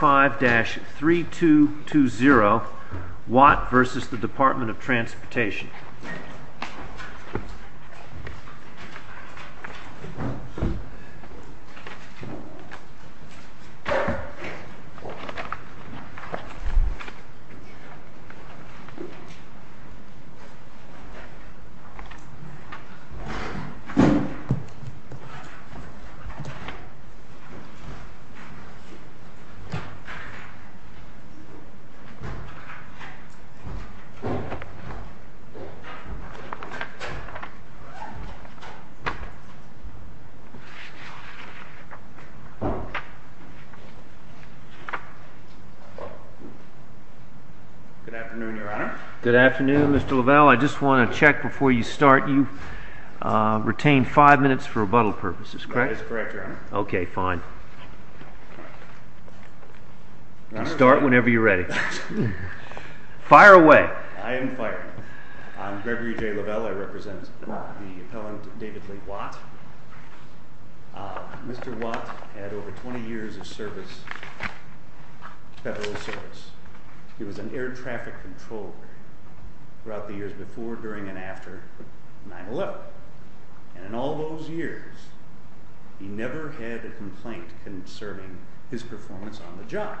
5-3220 Watt v. Department of Transportation Good afternoon, your honor. Good afternoon, Mr. Lovell. I just want to check before you start. You retained five minutes for rebuttal purposes, correct? That is correct, your honor. Okay, fine. You can start whenever you're ready. Fire away. I am fired. I'm Gregory J. Lovell. I represent the appellant, David Lee Watt. Mr. Watt had over 20 years of service, federal service. He was an air traffic controller throughout the years before, during, and after 9-11. And in all those years, he never had a complaint concerning his performance on the job.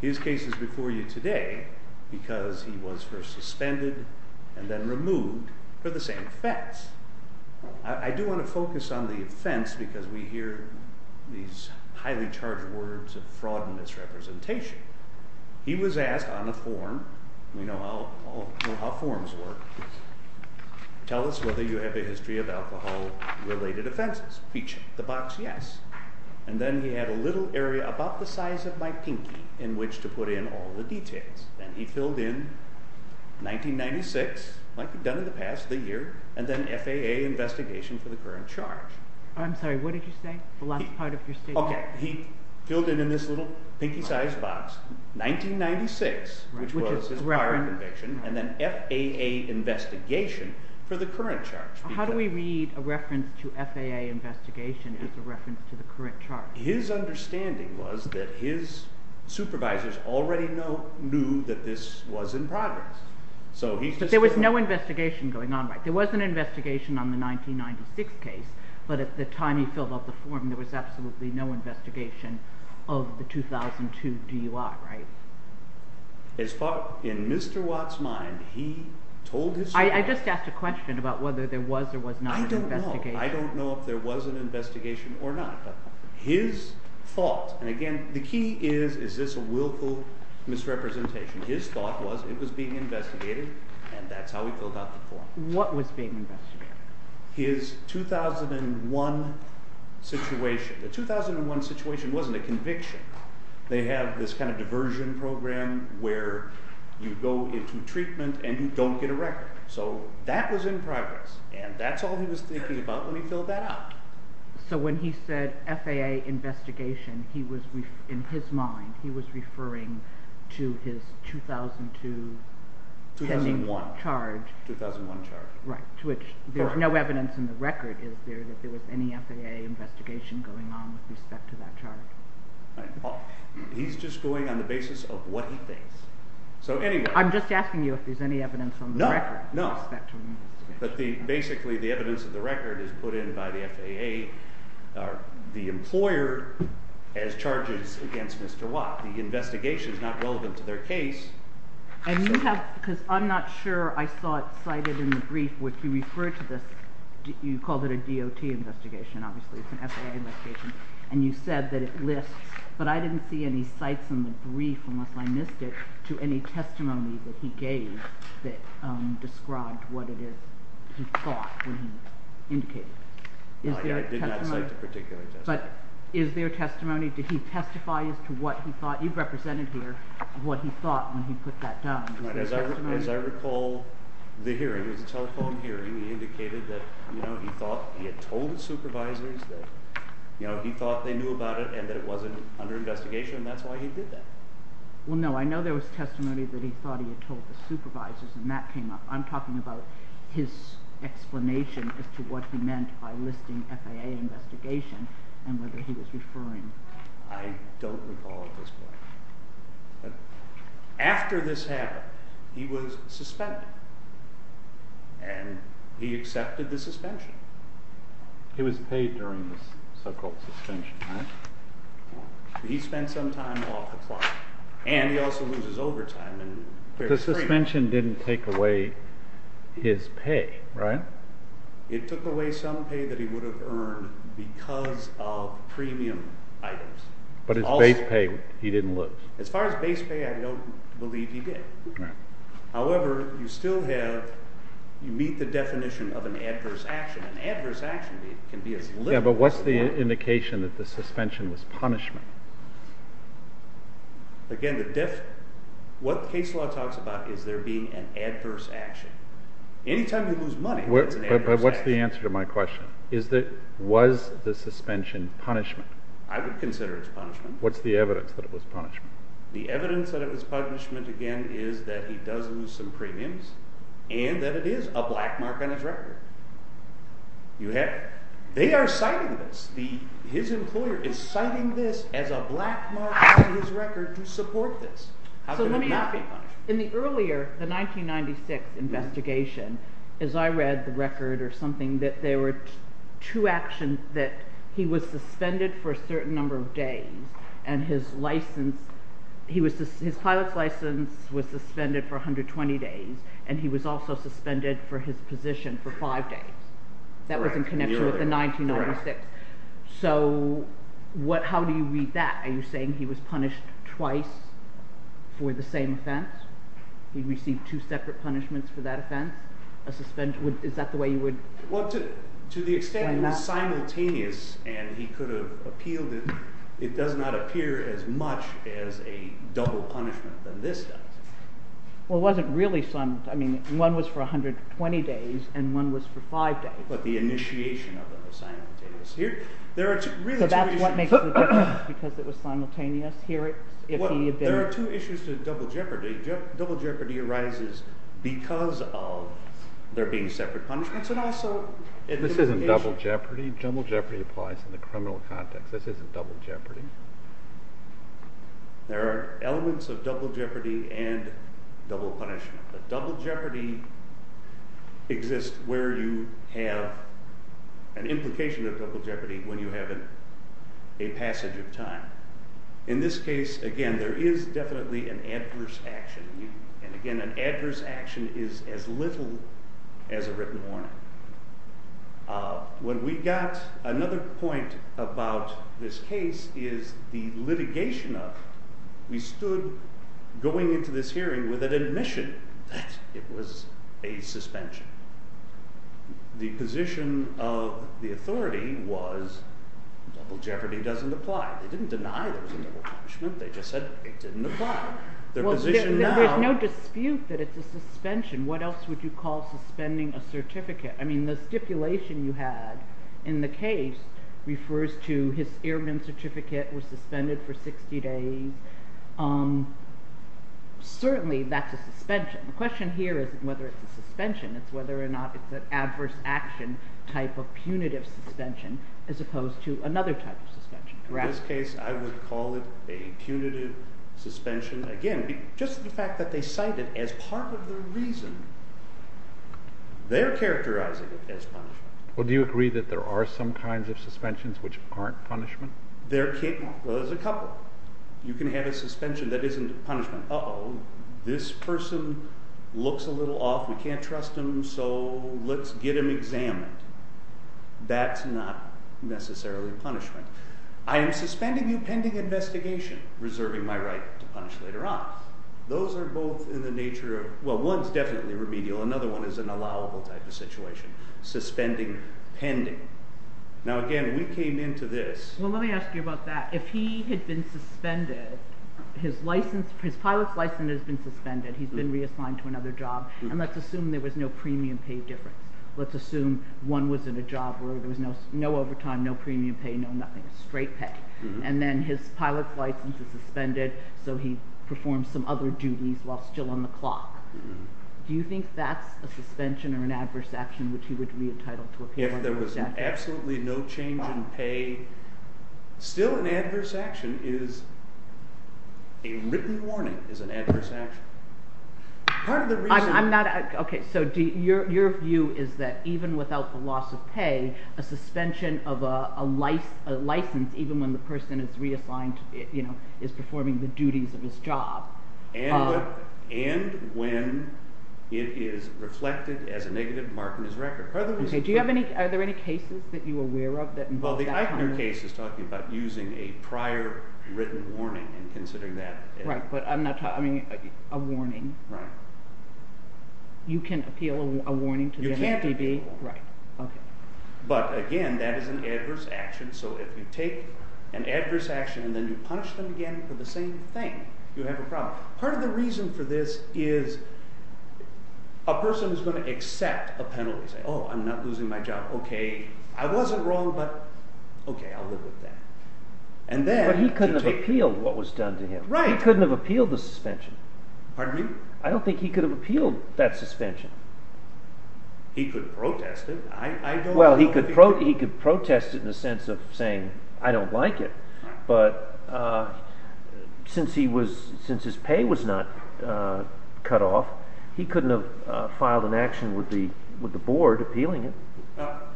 His case is before you today because he was first suspended and then removed for the same offense. I do want to focus on the offense because we hear these highly charged words of fraud and misrepresentation. He was asked on a form, we know how forms work, tell us whether you have a history of alcohol-related offenses. He checked the box, yes. And then he had a little area about the size of my pinky in which to put in all the details. And he filled in 1996, like he'd done in the past, the year, and then FAA investigation for the current charge. I'm sorry, what did you say? The last part of your statement? Okay, he filled it in this little pinky-sized box, 1996, which was his firing conviction, and then FAA investigation for the current charge. How do we read a reference to FAA investigation as a reference to the current charge? His understanding was that his supervisors already knew that this was in progress. But there was no investigation going on, right? There was an investigation on the 1996 case, but at the time he filled out the form there was absolutely no investigation of the 2002 DUI, right? As far as Mr. Watt's mind, he told his story. I just asked a question about whether there was or was not an investigation. I don't know. I don't know if there was an investigation or not, but his thought, and again, the key is, is this a willful misrepresentation? His thought was it was being investigated, and that's how he filled out the form. What was being investigated? His 2001 situation. The 2001 situation wasn't a conviction. They have this kind of diversion program where you go into treatment and you don't get a record. So that was in progress, and that's all he was thinking about when he filled that out. So when he said FAA investigation, he was, in his mind, he was referring to his 2002 pending charge. 2001 charge. Right, to which there's no evidence in the record is there that there was any FAA investigation going on with respect to that charge. He's just going on the basis of what he thinks. I'm just asking you if there's any evidence on the record. No, no. But basically the evidence of the record is put in by the FAA, the employer, as charges against Mr. Watt. The investigation is not relevant to their case. And you have, because I'm not sure I saw it cited in the brief, which you referred to this, you called it a DOT investigation, obviously it's an FAA investigation, and you said that it lists, but I didn't see any cites in the brief, unless I missed it, to any testimony that he gave that described what it is he thought when he indicated it. I did not cite a particular testimony. But is there testimony, did he testify as to what he thought? You've represented here what he thought when he put that down. As I recall the hearing, it was a telephone hearing, he indicated that he had told the supervisors that he thought they knew about it and that it wasn't under investigation, and that's why he did that. Well, no, I know there was testimony that he thought he had told the supervisors, and that came up. I'm talking about his explanation as to what he meant by listing FAA investigation and whether he was referring. I don't recall at this point. After this happened, he was suspended, and he accepted the suspension. He was paid during this so-called suspension, right? He spent some time off the clock, and he also loses overtime. The suspension didn't take away his pay, right? It took away some pay that he would have earned because of premium items. But his base pay, he didn't lose. As far as base pay, I don't believe he did. However, you still have, you meet the definition of an adverse action. An adverse action can be as little as one. Yeah, but what's the indication that the suspension was punishment? Again, what case law talks about is there being an adverse action. Anytime you lose money, it's an adverse action. But what's the answer to my question? Was the suspension punishment? I would consider it punishment. What's the evidence that it was punishment? The evidence that it was punishment, again, is that he does lose some premiums and that it is a black mark on his record. You have it. They are citing this. His employer is citing this as a black mark on his record to support this. How can it not be punishment? In the earlier, the 1996 investigation, as I read the record or something, that there were two actions that he was suspended for a certain number of days. And his license, his pilot's license was suspended for 120 days. And he was also suspended for his position for five days. That was in connection with the 1996. So how do you read that? Are you saying he was punished twice for the same offense? He received two separate punishments for that offense? Is that the way you would explain that? Well, to the extent it was simultaneous and he could have appealed it, it does not appear as much as a double punishment than this does. Well, it wasn't really simultaneous. I mean, one was for 120 days and one was for five days. But the initiation of them was simultaneous. So that's what makes the difference, because it was simultaneous? Well, there are two issues to double jeopardy. Double jeopardy arises because of there being separate punishments. This isn't double jeopardy. Double jeopardy applies in the criminal context. This isn't double jeopardy. There are elements of double jeopardy and double punishment. But double jeopardy exists where you have an implication of double jeopardy when you have a passage of time. In this case, again, there is definitely an adverse action. And, again, an adverse action is as little as a written warning. Another point about this case is the litigation of it. We stood going into this hearing with an admission that it was a suspension. The position of the authority was double jeopardy doesn't apply. They didn't deny there was a double punishment. They just said it didn't apply. There's no dispute that it's a suspension. What else would you call suspending a certificate? I mean the stipulation you had in the case refers to his airman certificate was suspended for 60 days. Certainly that's a suspension. The question here isn't whether it's a suspension. It's whether or not it's an adverse action type of punitive suspension as opposed to another type of suspension. In this case, I would call it a punitive suspension. Again, just the fact that they cite it as part of the reason they're characterizing it as punishment. Well, do you agree that there are some kinds of suspensions which aren't punishment? There's a couple. You can have a suspension that isn't punishment. Uh-oh, this person looks a little off. We can't trust him, so let's get him examined. That's not necessarily punishment. I am suspending you pending investigation, reserving my right to punish later on. Those are both in the nature of, well, one's definitely remedial. Another one is an allowable type of situation. Suspending pending. Now, again, we came into this. Well, let me ask you about that. If he had been suspended, his pilot's license has been suspended. He's been reassigned to another job, and let's assume there was no premium pay difference. Let's assume one was in a job where there was no overtime, no premium pay, no nothing. Straight pay. And then his pilot's license is suspended, so he performs some other duties while still on the clock. Do you think that's a suspension or an adverse action which he would be entitled to appear under? If there was absolutely no change in pay, still an adverse action is a written warning is an adverse action. Okay. So your view is that even without the loss of pay, a suspension of a license, even when the person is reassigned, is performing the duties of his job. And when it is reflected as a negative mark on his record. Are there any cases that you are aware of that involve that? Well, the Eichner case is talking about using a prior written warning and considering that. Right, but a warning. Right. You can appeal a warning to the NDB. You can appeal a warning. Right. Okay. But again, that is an adverse action, so if you take an adverse action and then you punish them again for the same thing, you have a problem. Part of the reason for this is a person is going to accept a penalty. Say, oh, I'm not losing my job. Okay, I wasn't wrong, but okay, I'll live with that. But he couldn't have appealed what was done to him. He couldn't have appealed the suspension. Pardon me? I don't think he could have appealed that suspension. He could protest it. Well, he could protest it in the sense of saying, I don't like it, but since his pay was not cut off, he couldn't have filed an action with the board appealing it.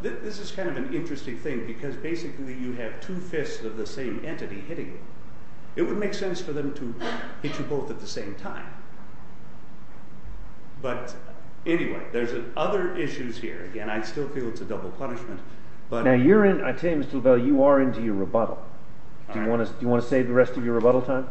This is kind of an interesting thing because basically you have two fists of the same entity hitting you. It would make sense for them to hit you both at the same time. But anyway, there's other issues here. Again, I still feel it's a double punishment. Now, you're in – I tell you, Mr. Lavelle, you are into your rebuttal. Do you want to save the rest of your rebuttal time?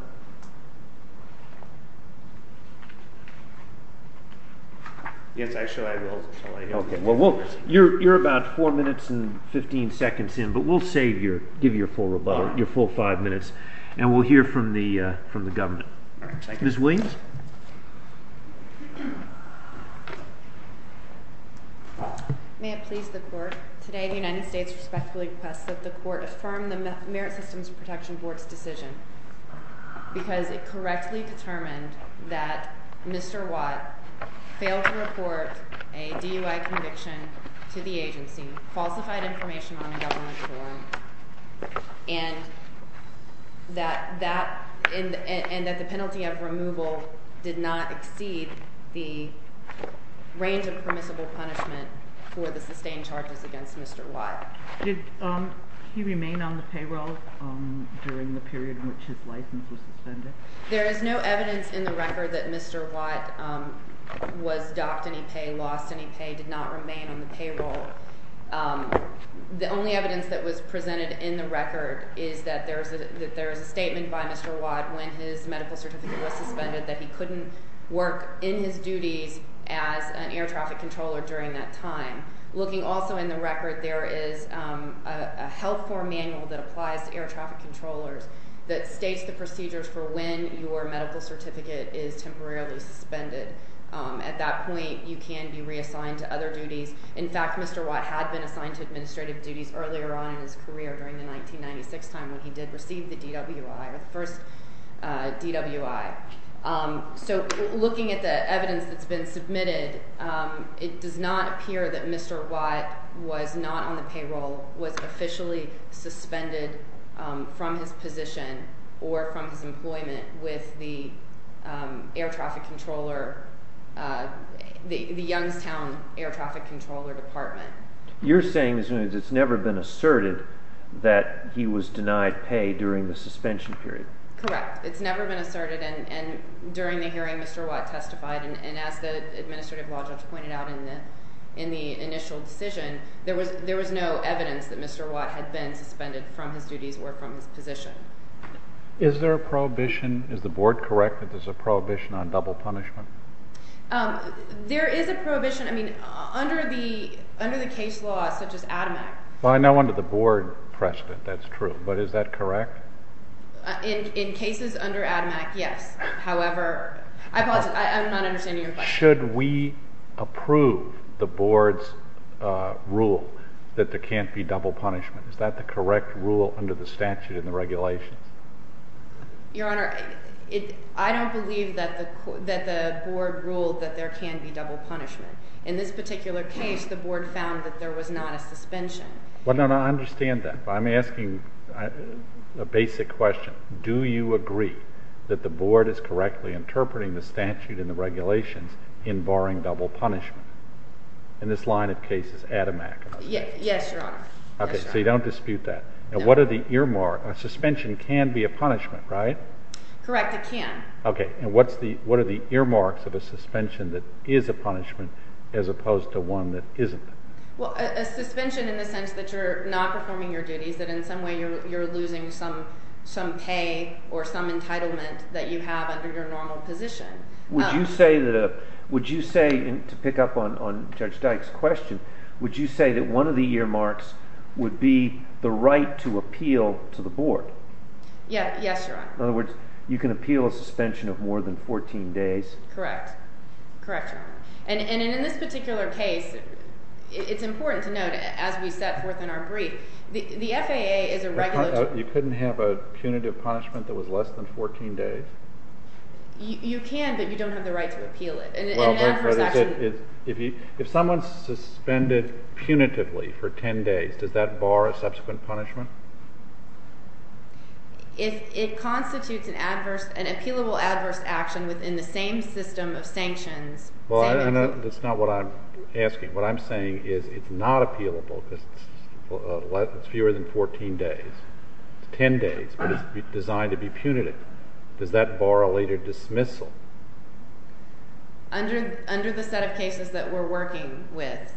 Yes, I shall. Okay, well, you're about four minutes and 15 seconds in, but we'll save your – give you your full rebuttal, your full five minutes, and we'll hear from the government. All right, thank you. Ms. Williams? May it please the Court, today the United States respectfully requests that the Court affirm the Merit Systems Protection Board's decision because it correctly determined that Mr. Watt failed to report a DUI conviction to the agency, falsified information on a government form, and that the penalty of removal did not exceed the range of permissible punishment for the sustained charges against Mr. Watt. Did he remain on the payroll during the period in which his license was suspended? There is no evidence in the record that Mr. Watt was docked any pay, lost any pay, did not remain on the payroll. The only evidence that was presented in the record is that there is a statement by Mr. Watt when his medical certificate was suspended that he couldn't work in his duties as an air traffic controller during that time. Looking also in the record, there is a health form manual that applies to air traffic controllers that states the procedures for when your medical certificate is temporarily suspended. At that point, you can be reassigned to other duties. In fact, Mr. Watt had been assigned to administrative duties earlier on in his career during the 1996 time when he did receive the DWI, or the first DWI. Looking at the evidence that's been submitted, it does not appear that Mr. Watt was not on the payroll, was officially suspended from his position or from his employment with the Youngstown Air Traffic Controller Department. You're saying that it's never been asserted that he was denied pay during the suspension period? Correct. It's never been asserted, and during the hearing Mr. Watt testified, and as the administrative law judge pointed out in the initial decision, there was no evidence that Mr. Watt had been suspended from his duties or from his position. Is there a prohibition, is the board correct, that there's a prohibition on double punishment? There is a prohibition, I mean, under the case law such as ADAMEC. Well, I know under the board precedent that's true, but is that correct? In cases under ADAMEC, yes. However, I apologize, I'm not understanding your question. Should we approve the board's rule that there can't be double punishment? Is that the correct rule under the statute and the regulations? Your Honor, I don't believe that the board ruled that there can be double punishment. In this particular case, the board found that there was not a suspension. Well, no, no, I understand that, but I'm asking a basic question. Do you agree that the board is correctly interpreting the statute and the regulations in barring double punishment in this line of cases, ADAMEC? Yes, Your Honor. Okay, so you don't dispute that. Now, what are the earmarks, a suspension can be a punishment, right? Correct, it can. Okay, and what are the earmarks of a suspension that is a punishment as opposed to one that isn't? Well, a suspension in the sense that you're not performing your duties, that in some way you're losing some pay or some entitlement that you have under your normal position. Would you say, to pick up on Judge Dyke's question, would you say that one of the earmarks would be the right to appeal to the board? Yes, Your Honor. In other words, you can appeal a suspension of more than 14 days? Correct. Correct, Your Honor. And in this particular case, it's important to note, as we set forth in our brief, the FAA is a regulatory… You couldn't have a punitive punishment that was less than 14 days? You can, but you don't have the right to appeal it. Well, Judge Rutherford, if someone's suspended punitively for 10 days, does that bar a subsequent punishment? If it constitutes an appealable adverse action within the same system of sanctions… Well, that's not what I'm asking. What I'm saying is it's not appealable because it's fewer than 14 days. It's 10 days, but it's designed to be punitive. Does that bar a later dismissal? Under the set of cases that we're working with,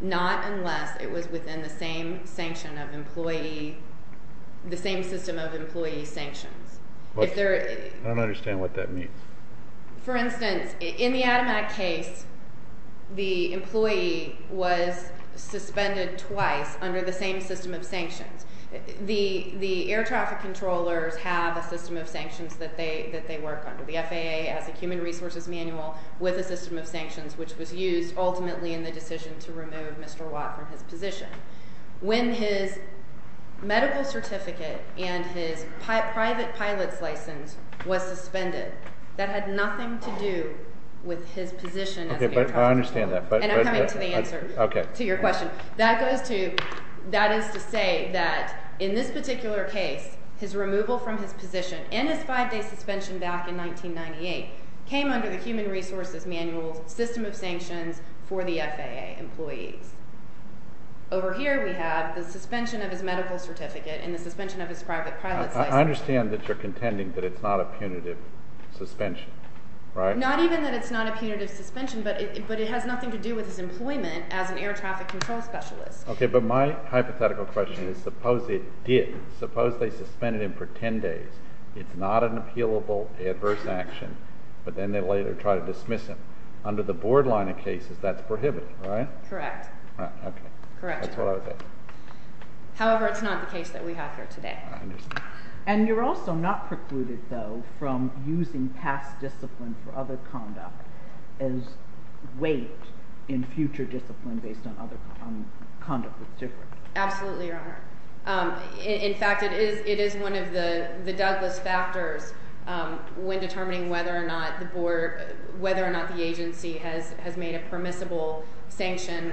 not unless it was within the same system of employee sanctions. I don't understand what that means. For instance, in the Ademac case, the employee was suspended twice under the same system of sanctions. The air traffic controllers have a system of sanctions that they work under. The FAA has a human resources manual with a system of sanctions, which was used ultimately in the decision to remove Mr. Watt from his position. When his medical certificate and his private pilot's license was suspended, that had nothing to do with his position as an air traffic controller. Okay, but I understand that. And I'm coming to the answer to your question. So that is to say that in this particular case, his removal from his position and his five-day suspension back in 1998 came under the human resources manual system of sanctions for the FAA employees. Over here we have the suspension of his medical certificate and the suspension of his private pilot's license. I understand that you're contending that it's not a punitive suspension, right? Not even that it's not a punitive suspension, but it has nothing to do with his employment as an air traffic control specialist. Okay, but my hypothetical question is suppose it did. Suppose they suspended him for 10 days. It's not an appealable adverse action, but then they later try to dismiss him. Under the board line of cases, that's prohibited, right? Correct. Okay. Correct. That's what I would say. However, it's not the case that we have here today. I understand. And you're also not precluded, though, from using past discipline for other conduct as weight in future discipline based on other conduct that's different. Absolutely, Your Honor. In fact, it is one of the Douglas factors when determining whether or not the agency has made a permissible sanction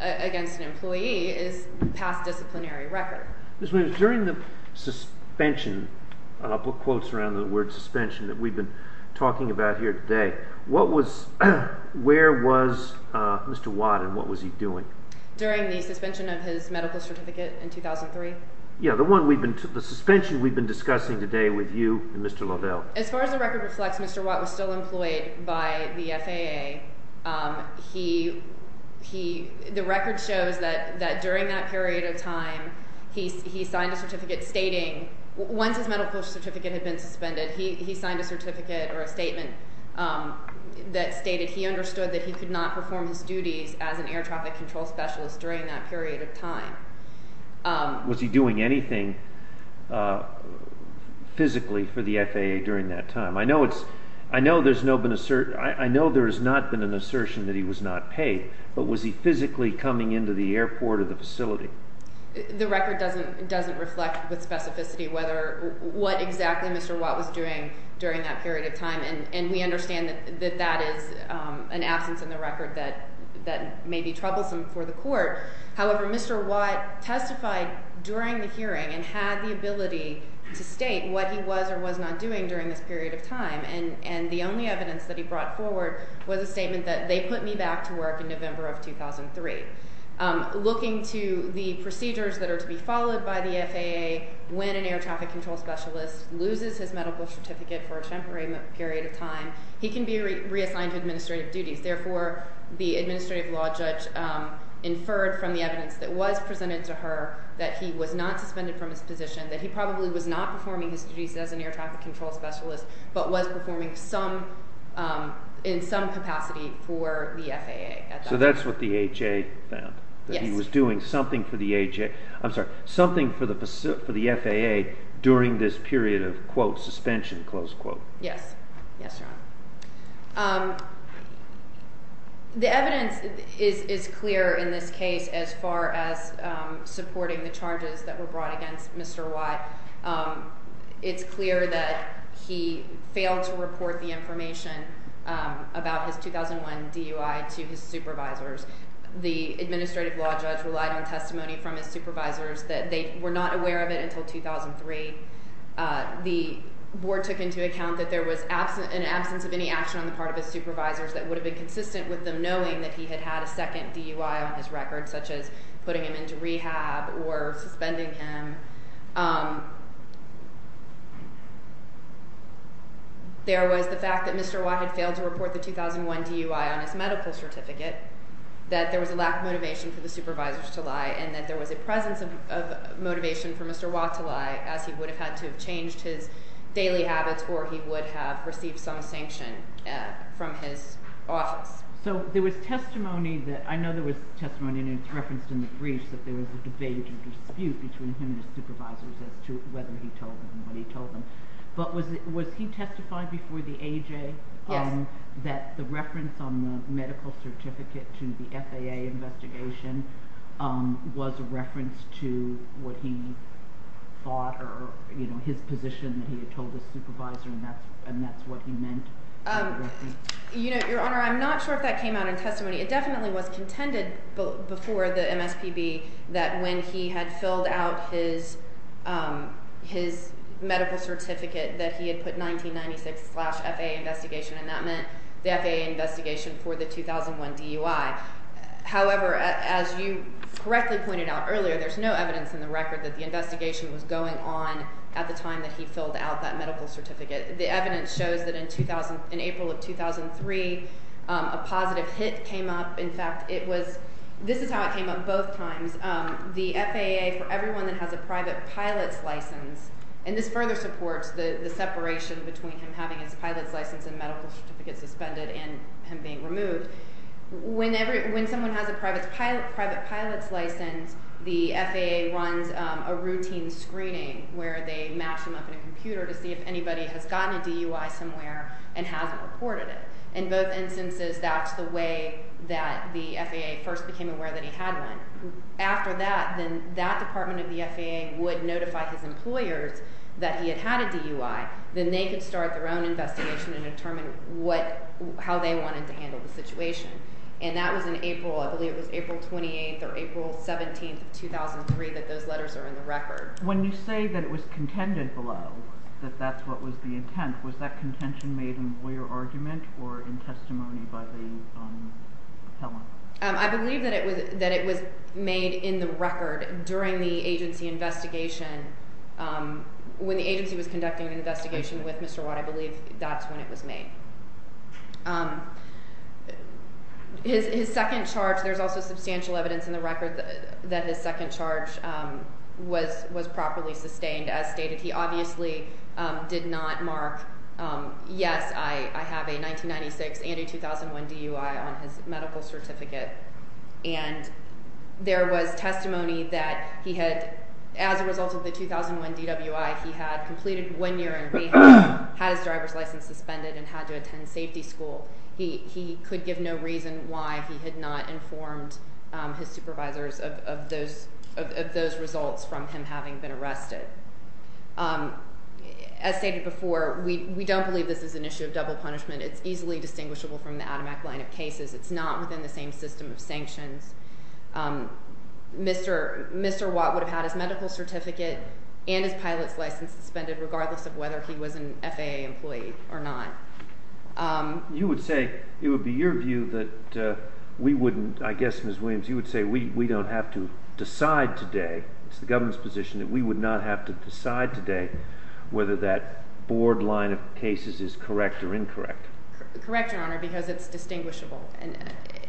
against an employee is past disciplinary record. Ms. Williams, during the suspension – I'll put quotes around the word suspension that we've been talking about here today. What was – where was Mr. Watt and what was he doing? During the suspension of his medical certificate in 2003? Yeah, the one we've been – the suspension we've been discussing today with you and Mr. Liddell. As far as the record reflects, Mr. Watt was still employed by the FAA. He – the record shows that during that period of time, he signed a certificate stating – once his medical certificate had been suspended, he signed a certificate or a statement that stated he understood that he could not perform his duties as an air traffic control specialist during that period of time. Was he doing anything physically for the FAA during that time? I know it's – I know there's no – I know there has not been an assertion that he was not paid, but was he physically coming into the airport or the facility? The record doesn't reflect with specificity whether – what exactly Mr. Watt was doing during that period of time, and we understand that that is an absence in the record that may be troublesome for the court. However, Mr. Watt testified during the hearing and had the ability to state what he was or was not doing during this period of time, and the only evidence that he brought forward was a statement that they put me back to work in November of 2003. Looking to the procedures that are to be followed by the FAA, when an air traffic control specialist loses his medical certificate for a temporary period of time, he can be reassigned to administrative duties. Therefore, the administrative law judge inferred from the evidence that was presented to her that he was not suspended from his position, that he probably was not performing his duties as an air traffic control specialist, but was performing some – in some capacity for the FAA. So that's what the AHA found? Yes. That he was doing something for the AHA – I'm sorry, something for the FAA during this period of, quote, suspension, close quote. Yes. Yes, Your Honor. The evidence is clear in this case as far as supporting the charges that were brought against Mr. Watt. It's clear that he failed to report the information about his 2001 DUI to his supervisors. The administrative law judge relied on testimony from his supervisors that they were not aware of it until 2003. The board took into account that there was an absence of any action on the part of his supervisors that would have been consistent with them knowing that he had had a second DUI on his record, such as putting him into rehab or suspending him. There was the fact that Mr. Watt had failed to report the 2001 DUI on his medical certificate, that there was a lack of motivation for the supervisors to lie, and that there was a presence of motivation for Mr. Watt to lie as he would have had to have changed his daily habits or he would have received some sanction from his office. So there was testimony that – I know there was testimony, and it's referenced in the briefs, that there was a debate or dispute between him and his supervisors as to whether he told them what he told them. But was he testified before the A.J.? Yes. That the reference on the medical certificate to the FAA investigation was a reference to what he thought or, you know, his position that he had told his supervisor, and that's what he meant by the reference? You know, Your Honor, I'm not sure if that came out in testimony. It definitely was contended before the MSPB that when he had filled out his medical certificate that he had put 1996 slash FAA investigation, and that meant the FAA investigation for the 2001 DUI. However, as you correctly pointed out earlier, there's no evidence in the record that the investigation was going on at the time that he filled out that medical certificate. The evidence shows that in April of 2003, a positive hit came up. In fact, it was – this is how it came up both times. And the FAA, for everyone that has a private pilot's license – and this further supports the separation between him having his pilot's license and medical certificate suspended and him being removed – when someone has a private pilot's license, the FAA runs a routine screening where they match him up in a computer to see if anybody has gotten a DUI somewhere and hasn't reported it. In both instances, that's the way that the FAA first became aware that he had one. After that, then that department of the FAA would notify his employers that he had had a DUI. Then they could start their own investigation and determine what – how they wanted to handle the situation. And that was in April – I believe it was April 28th or April 17th of 2003 that those letters are in the record. When you say that it was contended below, that that's what was the intent, was that contention made in lawyer argument or in testimony by the appellant? I believe that it was made in the record during the agency investigation. When the agency was conducting an investigation with Mr. Watt, I believe that's when it was made. His second charge – there's also substantial evidence in the record that his second charge was properly sustained. As stated, he obviously did not mark, yes, I have a 1996 and a 2001 DUI on his medical certificate. And there was testimony that he had – as a result of the 2001 DUI, he had completed one year in rehab, had his driver's license suspended, and had to attend safety school. He could give no reason why he had not informed his supervisors of those results from him having been arrested. As stated before, we don't believe this is an issue of double punishment. It's easily distinguishable from the ADAMAC line of cases. It's not within the same system of sanctions. Mr. Watt would have had his medical certificate and his pilot's license suspended regardless of whether he was an FAA employee or not. You would say – it would be your view that we wouldn't – I guess, Ms. Williams, you would say we don't have to decide today – it's the government's position that we would not have to decide today whether that board line of cases is correct or incorrect. Correct, Your Honor, because it's distinguishable.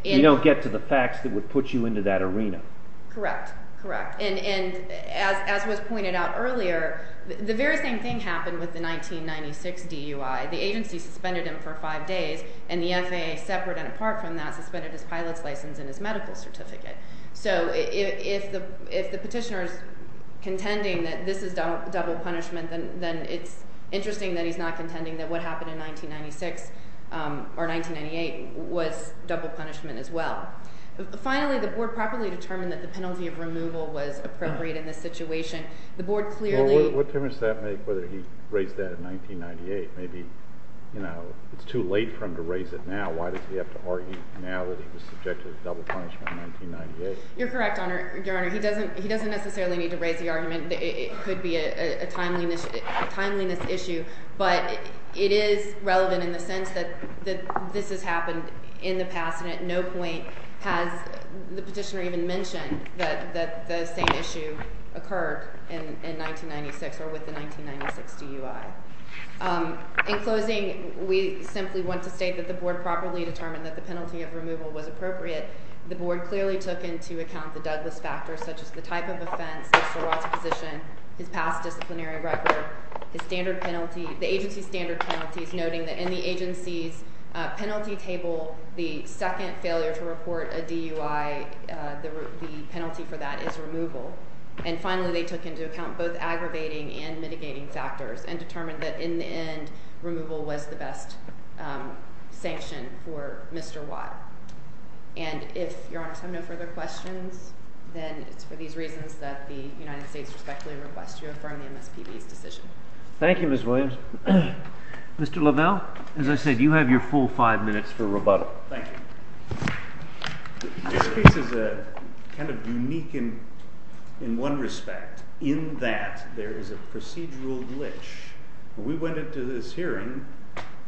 You don't get to the facts that would put you into that arena. Correct, correct. And as was pointed out earlier, the very same thing happened with the 1996 DUI. The agency suspended him for five days, and the FAA, separate and apart from that, suspended his pilot's license and his medical certificate. So if the petitioner is contending that this is double punishment, then it's interesting that he's not contending that what happened in 1996 or 1998 was double punishment as well. Finally, the board properly determined that the penalty of removal was appropriate in this situation. The board clearly – Well, what difference does that make whether he raised that in 1998? Maybe it's too late for him to raise it now. Why does he have to argue now that he was subjected to double punishment in 1998? You're correct, Your Honor. He doesn't necessarily need to raise the argument that it could be a timeliness issue, but it is relevant in the sense that this has happened in the past, and at no point has the petitioner even mentioned that the same issue occurred in 1996 or with the 1996 DUI. In closing, we simply want to state that the board properly determined that the penalty of removal was appropriate. The board clearly took into account the Douglas factor, such as the type of offense, Mr. Watts' position, his past disciplinary record, the agency's standard penalties, noting that in the agency's penalty table, the second failure to report a DUI, the penalty for that is removal. And finally, they took into account both aggravating and mitigating factors and determined that in the end, removal was the best sanction for Mr. Watt. And if Your Honor has no further questions, then it's for these reasons that the United States respectfully requests you affirm the MSPB's decision. Thank you, Ms. Williams. Mr. Lavelle, as I said, you have your full five minutes for rebuttal. Thank you. This case is kind of unique in one respect, in that there is a procedural glitch. When we went into this hearing,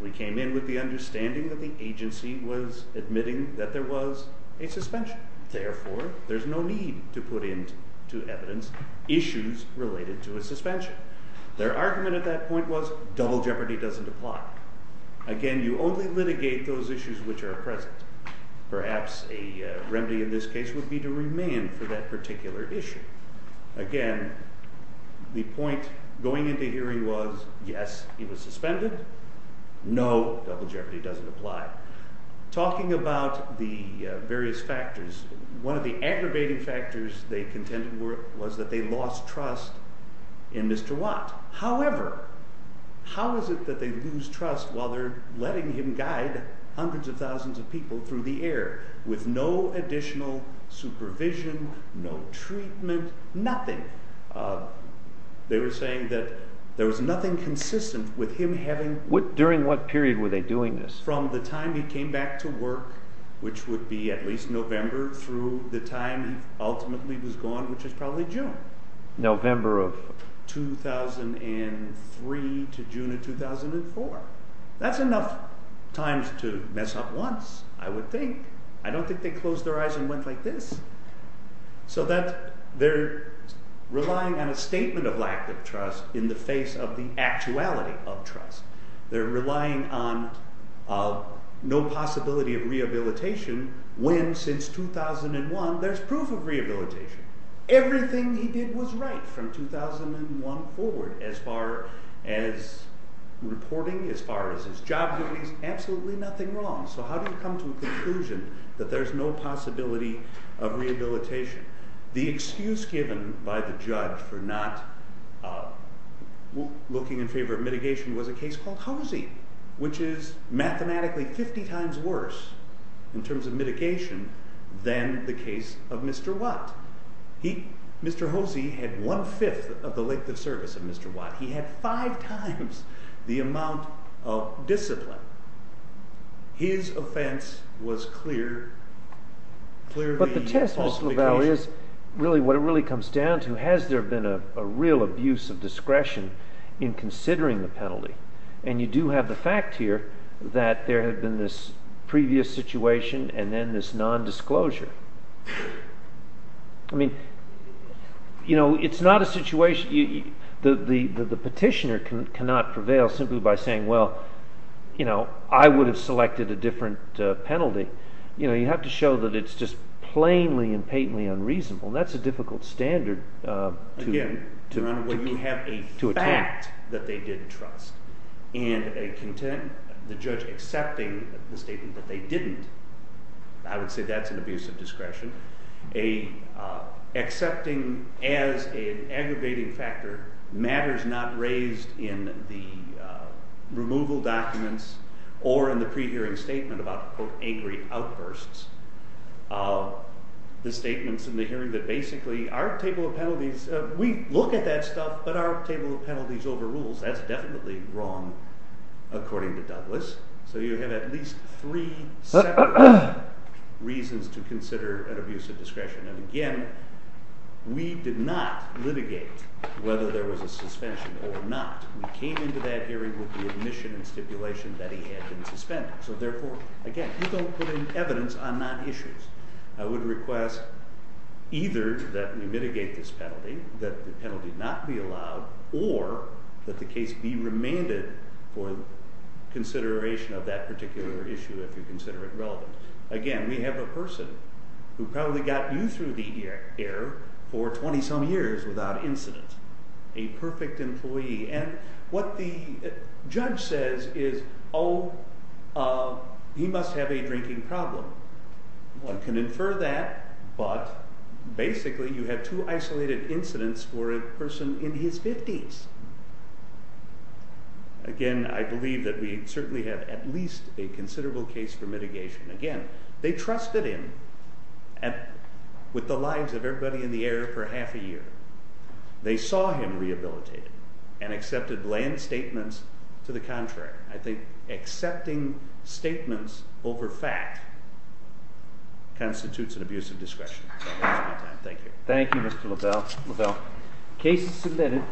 we came in with the understanding that the agency was admitting that there was a suspension. Therefore, there's no need to put into evidence issues related to a suspension. Their argument at that point was double jeopardy doesn't apply. Again, you only litigate those issues which are present. Perhaps a remedy in this case would be to remain for that particular issue. Again, the point going into hearing was, yes, he was suspended. No, double jeopardy doesn't apply. Talking about the various factors, one of the aggravating factors they contended was that they lost trust in Mr. Watt. However, how is it that they lose trust while they're letting him guide hundreds of thousands of people through the air with no additional supervision, no treatment, nothing? They were saying that there was nothing consistent with him having— During what period were they doing this? From the time he came back to work, which would be at least November, through the time he ultimately was gone, which is probably June. November of— 2003 to June of 2004. That's enough times to mess up once, I would think. I don't think they closed their eyes and went like this. They're relying on a statement of lack of trust in the face of the actuality of trust. They're relying on no possibility of rehabilitation when, since 2001, there's proof of rehabilitation. Everything he did was right from 2001 forward, as far as reporting, as far as his job duties, absolutely nothing wrong. So how do you come to a conclusion that there's no possibility of rehabilitation? The excuse given by the judge for not looking in favor of mitigation was a case called Hosey, which is mathematically 50 times worse in terms of mitigation than the case of Mr. Watt. Mr. Hosey had one-fifth of the length of service of Mr. Watt. He had five times the amount of discipline. His offense was clearly falsification. But the test, Mr. LaValle, is really what it really comes down to. Has there been a real abuse of discretion in considering the penalty? And you do have the fact here that there had been this previous situation and then this nondisclosure. I mean, it's not a situation – the petitioner cannot prevail simply by saying, well, I would have selected a different penalty. You have to show that it's just plainly and patently unreasonable. That's a difficult standard to attack. And the judge accepting the statement that they didn't, I would say that's an abuse of discretion. Accepting as an aggravating factor matters not raised in the removal documents or in the pre-hearing statement about, quote, angry outbursts. The statements in the hearing that basically our table of penalties – we look at that stuff, but our table of penalties overrules. That's definitely wrong, according to Douglas. So you have at least three separate reasons to consider an abuse of discretion. And again, we did not litigate whether there was a suspension or not. We came into that hearing with the admission and stipulation that he had been suspended. So therefore, again, you don't put in evidence on non-issues. I would request either that we mitigate this penalty, that the penalty not be allowed, or that the case be remanded for consideration of that particular issue if you consider it relevant. Again, we have a person who probably got you through the air for 20-some years without incident. A perfect employee. And what the judge says is, oh, he must have a drinking problem. One can infer that, but basically you have two isolated incidents for a person in his 50s. Again, I believe that we certainly have at least a considerable case for mitigation. Again, they trusted him with the lives of everybody in the area for half a year. They saw him rehabilitated and accepted bland statements to the contrary. I think accepting statements over fact constitutes an abuse of discretion. Thank you. Thank you, Mr. Lovell. Lovell, case is submitted.